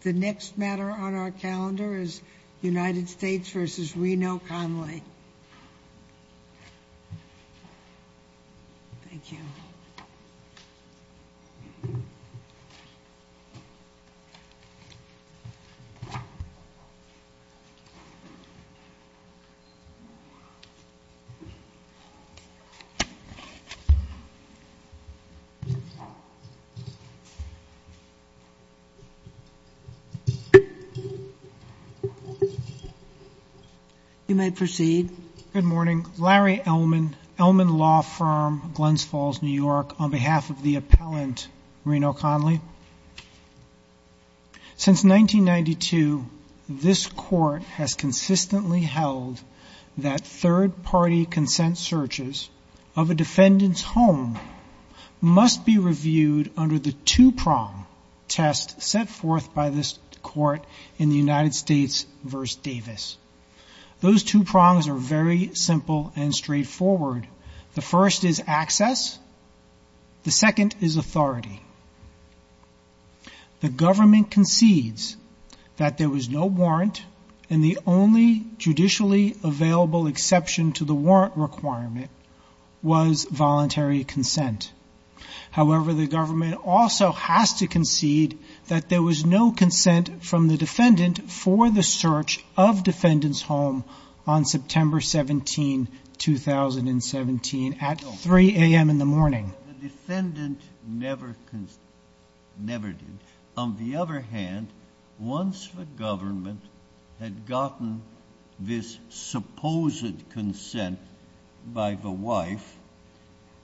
The next matter on our calendar is United States v. Reno Conley. Good morning. Larry Elman, Elman Law Firm, Glens Falls, New York, on behalf of the appellant Reno Conley. Since 1992, this Court has consistently held that third-party consent searches of a defendant's home must be reviewed under the two-prong test set forth by this Court in the United States v. Davis. Those two prongs are very simple and straightforward. The first is access. The second is authority. The government concedes that there was no warrant, and the only judicially available exception to the warrant requirement was voluntary consent. However, the government also has to concede that there was no consent from the defendant for the search of defendant's home on September 17, 2017, at 3 a.m. in the morning. The defendant never did. On the other hand, once the government had gotten this supposed consent by the wife,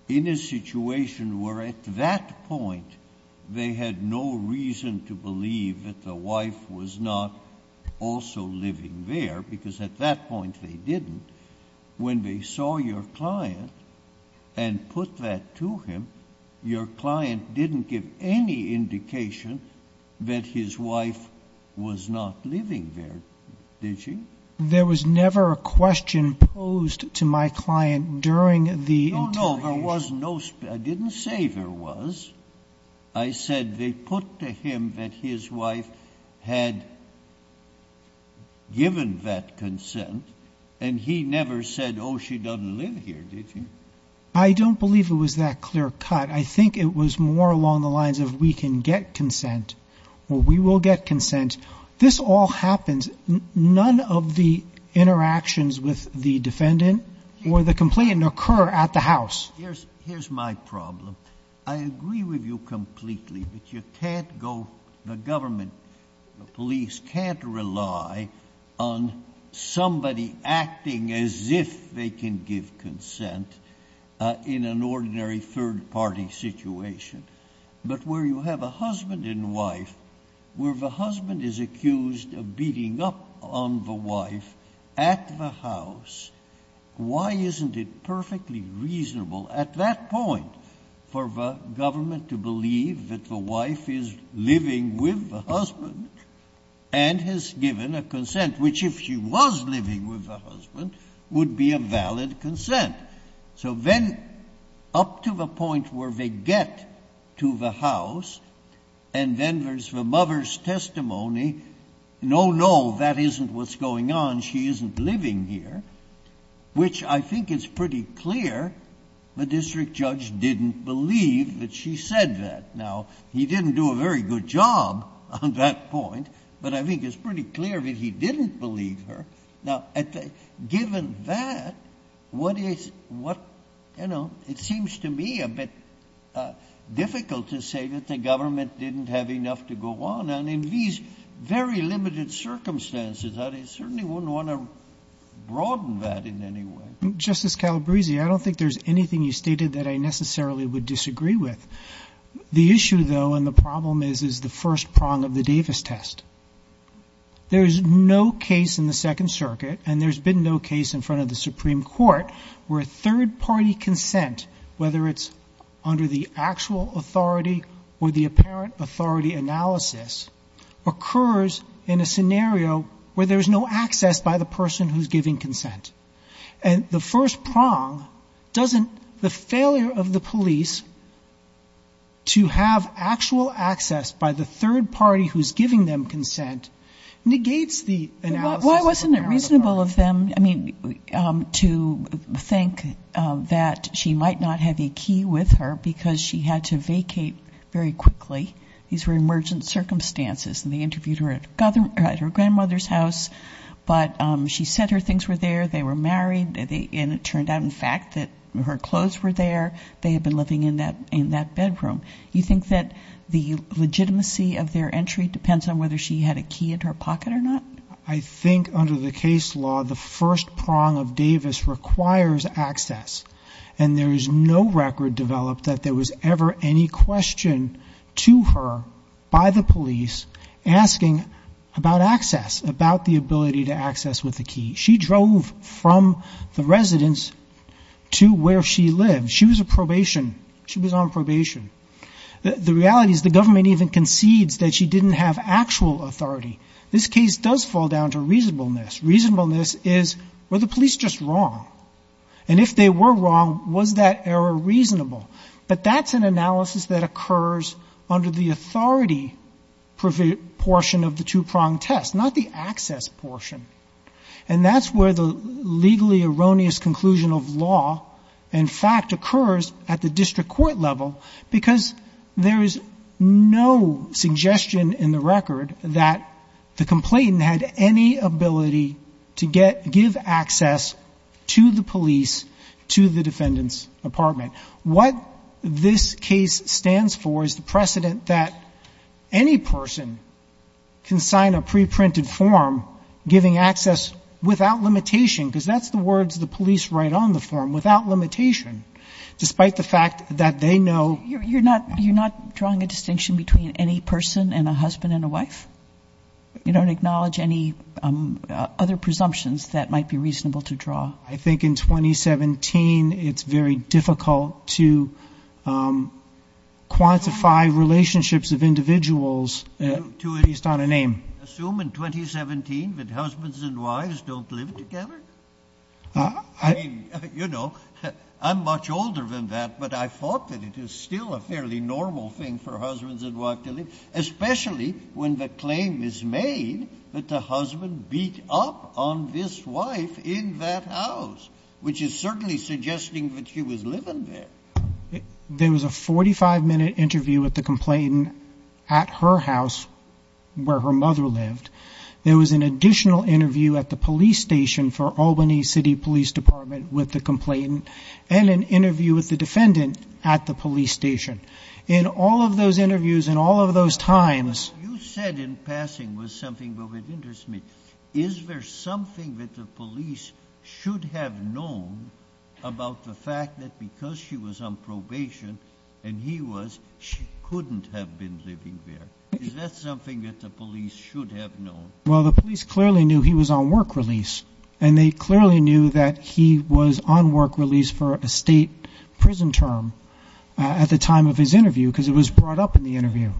in a situation where at that point they had no reason to believe that the wife was not also living there, because at that point they didn't, when they saw your client and put that to him, your client didn't give any indication that his wife was not living there, did she? There was never a question posed to my client during the interrogation. No, no, there was no, I didn't say there was. I said they put to him that his wife had given that consent, and he never said, oh she doesn't live here, did he? I don't believe it was that clear cut. I think it was more along the lines of we can get consent, or we will get consent. This all happens, none of the interactions with the defendant or the complainant occur at the house. Here's my problem. I agree with you completely, but you can't go, the government, the police can't rely on somebody acting as if they can give consent in an ordinary third party situation. But where you have a husband and wife, where the husband is accused of beating up on the wife at the house, why isn't it perfectly reasonable at that point for the government to would be a valid consent. So then up to the point where they get to the house, and then there's the mother's testimony, no, no, that isn't what's going on, she isn't living here, which I think is pretty clear, the district judge didn't believe that she said that. Now, he given that, what is, what, you know, it seems to me a bit difficult to say that the government didn't have enough to go on. And in these very limited circumstances, I certainly wouldn't want to broaden that in any way. Justice Calabresi, I don't think there's anything you stated that I necessarily would disagree with. The issue though, and the problem is, is the first prong of the Davis test. There's no case in the Second Circuit, and there's been no case in front of the Supreme Court, where third party consent, whether it's under the actual authority or the apparent authority analysis, occurs in a scenario where there's no access by the person who's giving consent. And the first prong doesn't, the failure of the police to have actual access by the third party who's giving them consent, negates the analysis of the apparent authority. Why wasn't it reasonable of them, I mean, to think that she might not have a key with her, because she had to vacate very quickly. These were her things were there, they were married, and it turned out in fact that her clothes were there, they had been living in that bedroom. You think that the legitimacy of their entry depends on whether she had a key in her pocket or not? I think under the case law, the first prong of Davis requires access. And there is no record developed that there was ever any question to her by the police about access with the key. She drove from the residence to where she lived. She was a probation, she was on probation. The reality is the government even concedes that she didn't have actual authority. This case does fall down to reasonableness. Reasonableness is, were the police just wrong? And if they were wrong, was that error reasonable? But that's an analysis that occurs under the authority portion of the two prong test, not the case law. And that's where the legally erroneous conclusion of law, in fact, occurs at the district court level, because there is no suggestion in the record that the complainant had any ability to give access to the police, to the defendant's apartment. What this case stands for is the precedent that any person can sign a preprinted form giving access without limitation, because that's the words the police write on the form, without limitation, despite the fact that they know... You're not drawing a distinction between any person and a husband and a wife? You don't acknowledge any other presumptions that might be reasonable to assume in 2017 that husbands and wives don't live together? You know, I'm much older than that, but I thought that it is still a fairly normal thing for husbands and wives to live together, especially when the claim is made that the husband beat up on this wife in that house, which is certainly suggesting that she was living there. There was a 45-minute interview with the complainant at her house, where her mother lived. There was an additional interview at the police station for Albany City Police Department with the complainant, and an interview with the defendant at the police station. In all of those interviews, in all of those times... Well, the police clearly knew he was on work release, and they clearly knew that he was on work release for a state prison term at the time of his interview, because it was brought up in the interview.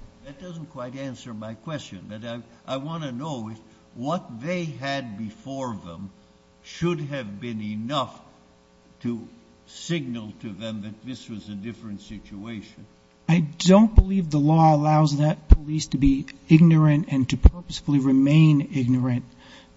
I don't believe the law allows that police to be ignorant and to purposefully remain ignorant.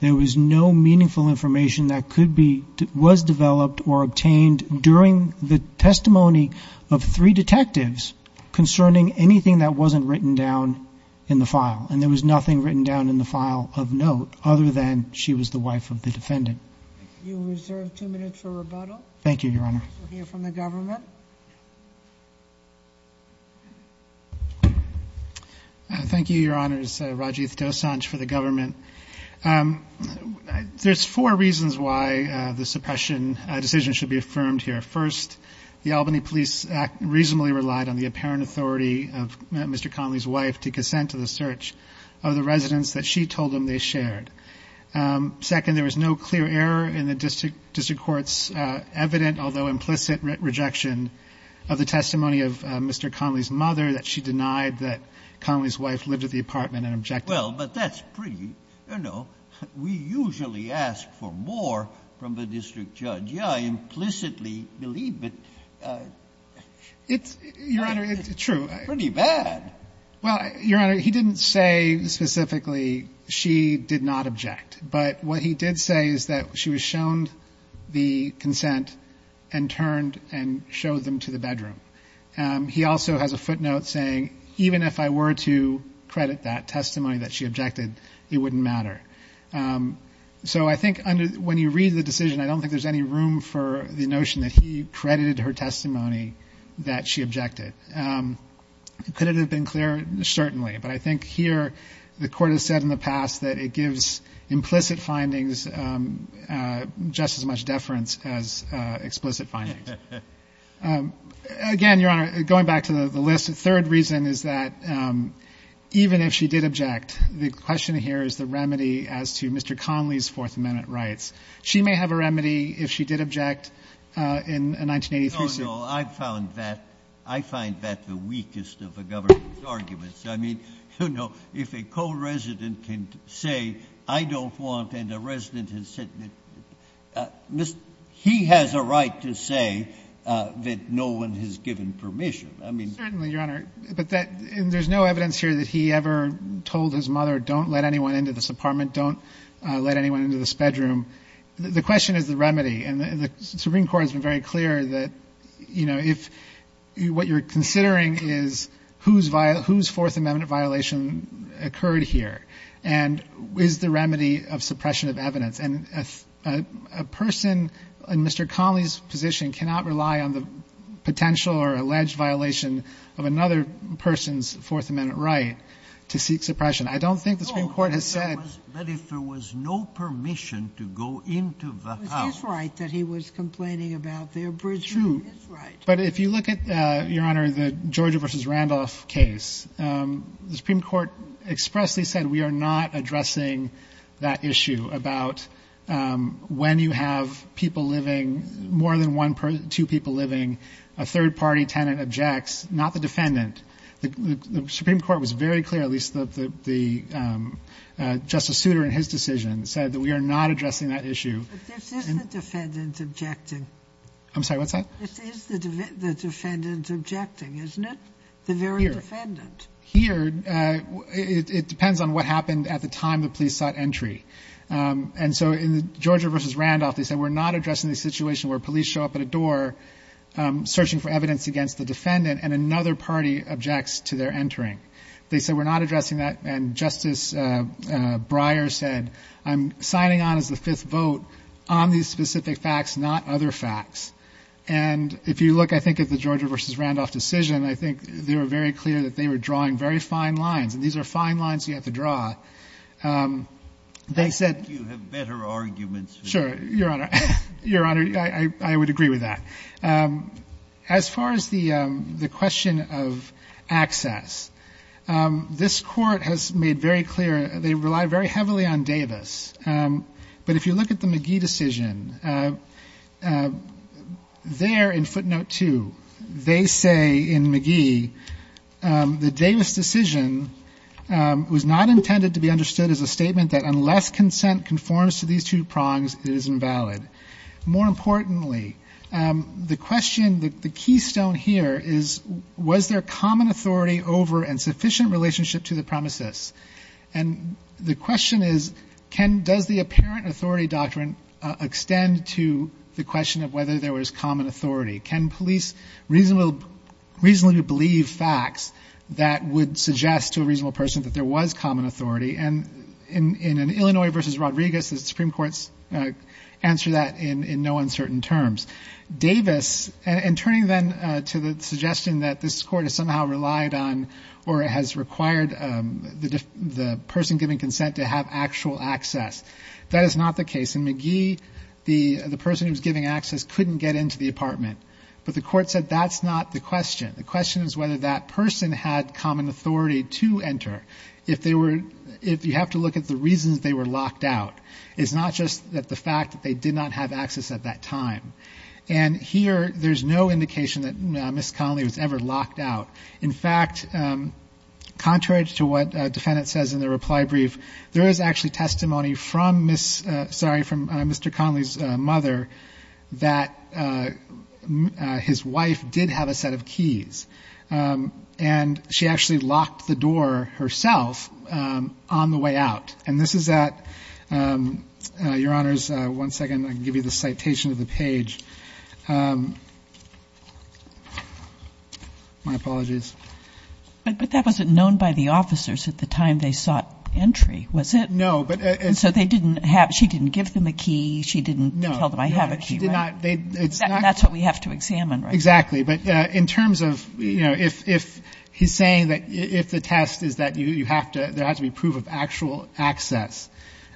There was no meaningful information that could be... was developed or obtained during the testimony of three detectives concerning anything that wasn't written down in the file, and there was nothing written down in the file of note other than she was the wife of the defendant. You reserve two minutes for rebuttal. Thank you, Your Honor. We'll hear from the government. Thank you, Your Honor. This is Rajiv Dosanjh for the government. There's four reasons why the suppression decision should be affirmed here. First, the Albany Police Act reasonably relied on the apparent authority of Mr. Connolly's wife to consent to the search of the residence that she told him they were looking for. The second reason is that Mr. Connolly's wife did not object to the implicit rejection of the testimony of Mr. Connolly's mother, that she denied that Connolly's wife lived at the apartment and objected. Well, but that's pretty, you know, we usually ask for more from the district judge. Yeah, I implicitly believe it. It's, Your Honor, it's true. Pretty bad. Well, Your Honor, he didn't say specifically she did not object. But what he did say is that she was shown the consent and turned and showed them to the bedroom. He also has a footnote saying, even if I were to credit that testimony that she objected, it wouldn't matter. So I think when you read the decision, I don't think there's any room for the notion that he credited her testimony that she objected. Could it have been clearer? Certainly. But I think here the Court has said in the past that it gives implicit findings just as much deference as explicit findings. Again, Your Honor, going back to the list, the third reason is that even if she did object, the question here is the remedy as to Mr. Connolly's Fourth Amendment rights. She may have a remedy if she did object in 1983. No, no. I find that the weakest of the government's arguments. I mean, you know, if a co-resident can say, I don't want, and a resident has said, he has a right to say that no one has given permission. Certainly, Your Honor. But there's no evidence here that he ever told his mother, don't let anyone into this apartment. Don't let anyone into this bedroom. The question is the remedy. And the Supreme Court has been very clear that, you know, if what you're considering is whose Fourth Amendment violation occurred here and is the remedy of suppression of evidence. And a person in Mr. Connolly's position cannot rely on the potential or alleged violation of another person's Fourth Amendment right to seek suppression. I don't think the Supreme Court has said that. But if there was no permission to go into the house. It is right that he was complaining about their bridging. True. It's right. But if you look at, Your Honor, the Georgia v. Randolph case, the Supreme Court expressly said we are not addressing that issue about when you have people living, more than one, two people living, a third-party tenant objects, not the defendant. The Supreme Court was very clear, at least the Justice Souter in his decision, said that we are not addressing that issue. But this is the defendant objecting. I'm sorry, what's that? This is the defendant objecting, isn't it? The very defendant. Here, it depends on what happened at the time the police sought entry. And so in the Georgia v. Randolph, they said we're not addressing the situation where police show up at a door searching for evidence against the defendant and another party objects to their entering. They said we're not addressing that. And Justice Breyer said I'm signing on as the fifth vote on these specific facts, not other facts. And if you look, I think, at the Georgia v. Randolph decision, I think they were very clear that they were drawing very fine lines. And these are fine lines you have to draw. They said you have better arguments. Sure, Your Honor. Your Honor, I would agree with that. As far as the question of access, this Court has made very clear they rely very heavily on Davis. But if you look at the McGee decision, there in footnote 2, they say in McGee, the Davis decision was not intended to be understood as a statement that unless consent conforms to these two prongs, it is invalid. More importantly, the question, the keystone here is, was there common authority over and sufficient relationship to the premises? And the question is, does the apparent authority doctrine extend to the question of whether there was common authority? Can police reasonably believe facts that would suggest to a reasonable person that there was common authority? And in an Illinois v. Rodriguez, the Supreme Court's answer to that in no uncertain terms. Davis, and turning then to the suggestion that this Court has somehow relied on or has required the person giving consent to have actual access, that is not the case. In McGee, the person who was giving access couldn't get into the apartment. But the Court said that's not the question. The question is whether that person had common authority to enter. If they were, if you have to look at the reasons they were locked out, it's not just that the fact that they did not have access at that time. And here, there's no indication that Ms. Connolly was ever locked out. In fact, contrary to what the defendant says in the reply brief, there is actually testimony from Ms., sorry, from Mr. Connolly's mother that his wife did have a set of keys. And she actually locked the door herself on the way out. And this is at, Your Honors, one second. I can give you the citation of the page. My apologies. But that wasn't known by the officers at the time they sought entry, was it? No. So they didn't have, she didn't give them a key, she didn't tell them, I have a key, right? No, no, she did not. That's what we have to examine, right? Exactly. But in terms of, you know, if he's saying that if the test is that you have to, there has to be proof of actual access,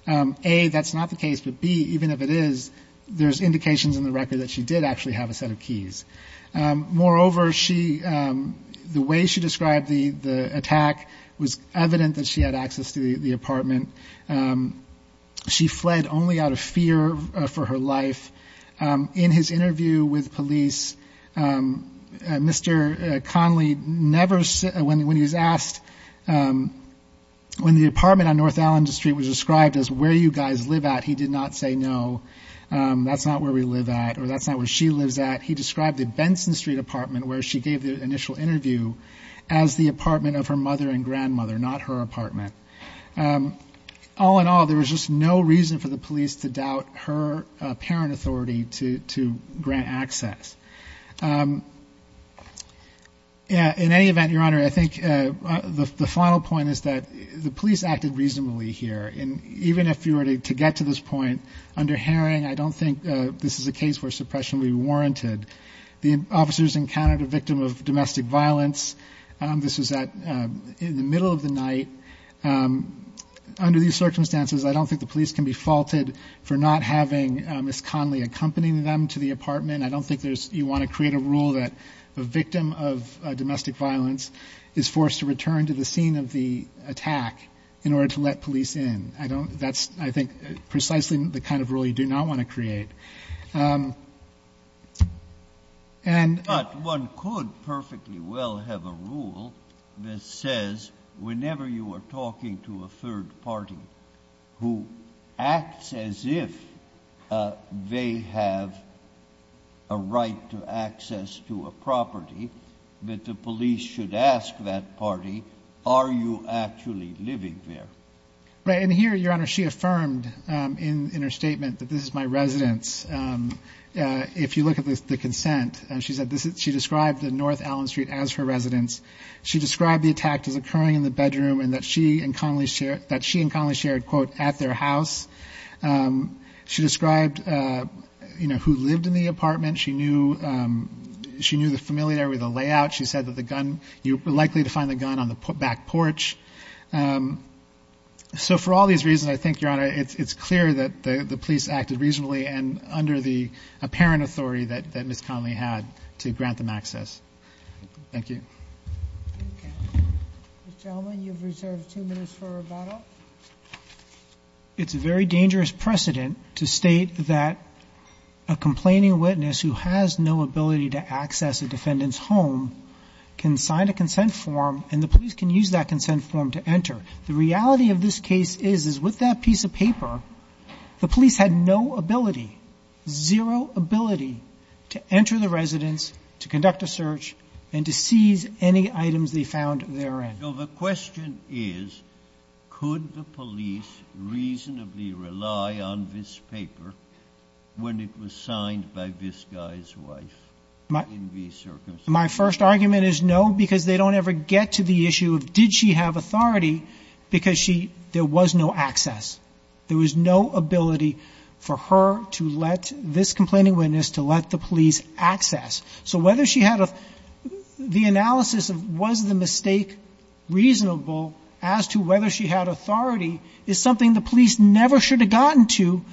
A, that's not the case, but B, even if it is, there's indications in the record that she did actually have a set of keys. Moreover, she, the way she described the attack was evident that she had access to the apartment. She fled only out of fear for her life. In his interview with police, Mr. Conley never, when he was asked, when the apartment on North Allen Street was described as where you guys live at, he did not say no, that's not where we live at, or that's not where she lives at. He described the Benson Street apartment where she gave the initial interview as the apartment of her mother and grandmother, not her apartment. All in all, there was just no reason for the police to doubt her apparent authority to grant access. In any event, Your Honor, I think the final point is that the police acted reasonably here, and even if you were to get to this point under Herring, I don't think this is a case where suppression would be warranted. The officers encountered a victim of domestic violence. This was in the middle of the night. Under these circumstances, I don't think the police can be faulted for not having Ms. Conley accompanying them to the apartment. I don't think you want to create a rule that the victim of domestic violence is forced to return to the scene of the attack in order to let police in. That's, I think, precisely the kind of rule you do not want to create. But one could perfectly well have a rule that says whenever you are talking to a third party who acts as if they have a right to access to a property, that the police should ask that party, are you actually living there? Right, and here, Your Honor, she affirmed in her statement that this is my residence. If you look at the consent, she described North Allen Street as her residence. She described the attack as occurring in the bedroom and that she and Conley shared, quote, at their house. She described who lived in the apartment. She knew the familiar with the layout. She said that you were likely to find the gun on the back porch. So for all these reasons, I think, Your Honor, it's clear that the police acted reasonably and under the apparent authority that Ms. Conley had to grant them access. Thank you. Mr. Elman, you've reserved two minutes for rebuttal. It's a very dangerous precedent to state that a complaining witness who has no ability to access a defendant's home can sign a consent form and the police can use that consent form to enter. The reality of this case is, is with that piece of paper, the police had no ability, zero ability to enter the residence, to conduct a search, and to seize any items they found therein. So the question is, could the police reasonably rely on this paper when it was signed by this guy's wife in these circumstances? My first argument is no, because they don't ever get to the issue of, did she have authority, because she, there was no access. There was no ability for her to let, this complaining witness, to let the police access. So whether she had a, the analysis of was the mistake reasonable as to whether she had authority is something the police never should have gotten to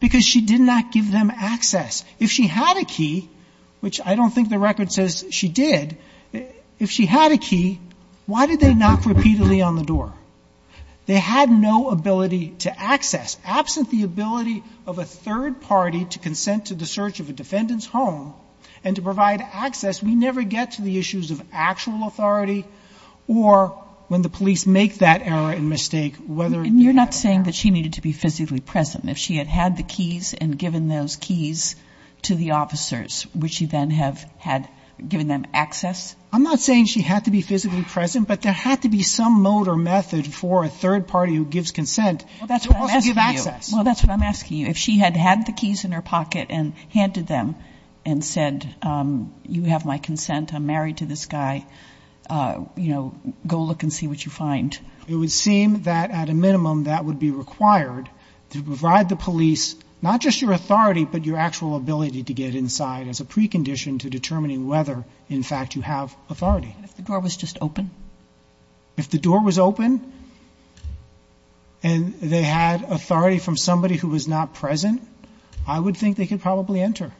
because she did not give them access. If she had a key, which I don't think the record says she did, if she had a key, why did they knock repeatedly on the door? They had no ability to access. Absent the ability of a third party to consent to the search of a defendant's home and to provide access, we never get to the issues of actual authority or when the police make that error and mistake whether they have or have not. And you're not saying that she needed to be physically present. If she had had the keys and given those keys to the officers, would she then have had, given them access? I'm not saying she had to be physically present, but there had to be some mode or method for a third party who gives consent to also give access. Well, that's what I'm asking you. If she had had the keys in her pocket and handed them and said, you have my consent, I'm married to this guy, you know, go look and see what you find. It would seem that at a minimum that would be required to provide the police, not just your authority, but your actual ability to get inside as a precondition to determining whether, in fact, you have authority. And if the door was just open? If the door was open and they had authority from somebody who was not present, I would think they could probably enter.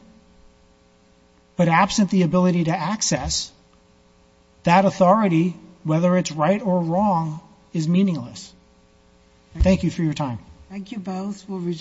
But absent the ability to access, that authority, whether it's right or wrong, is meaningless. Thank you for your time. Thank you both.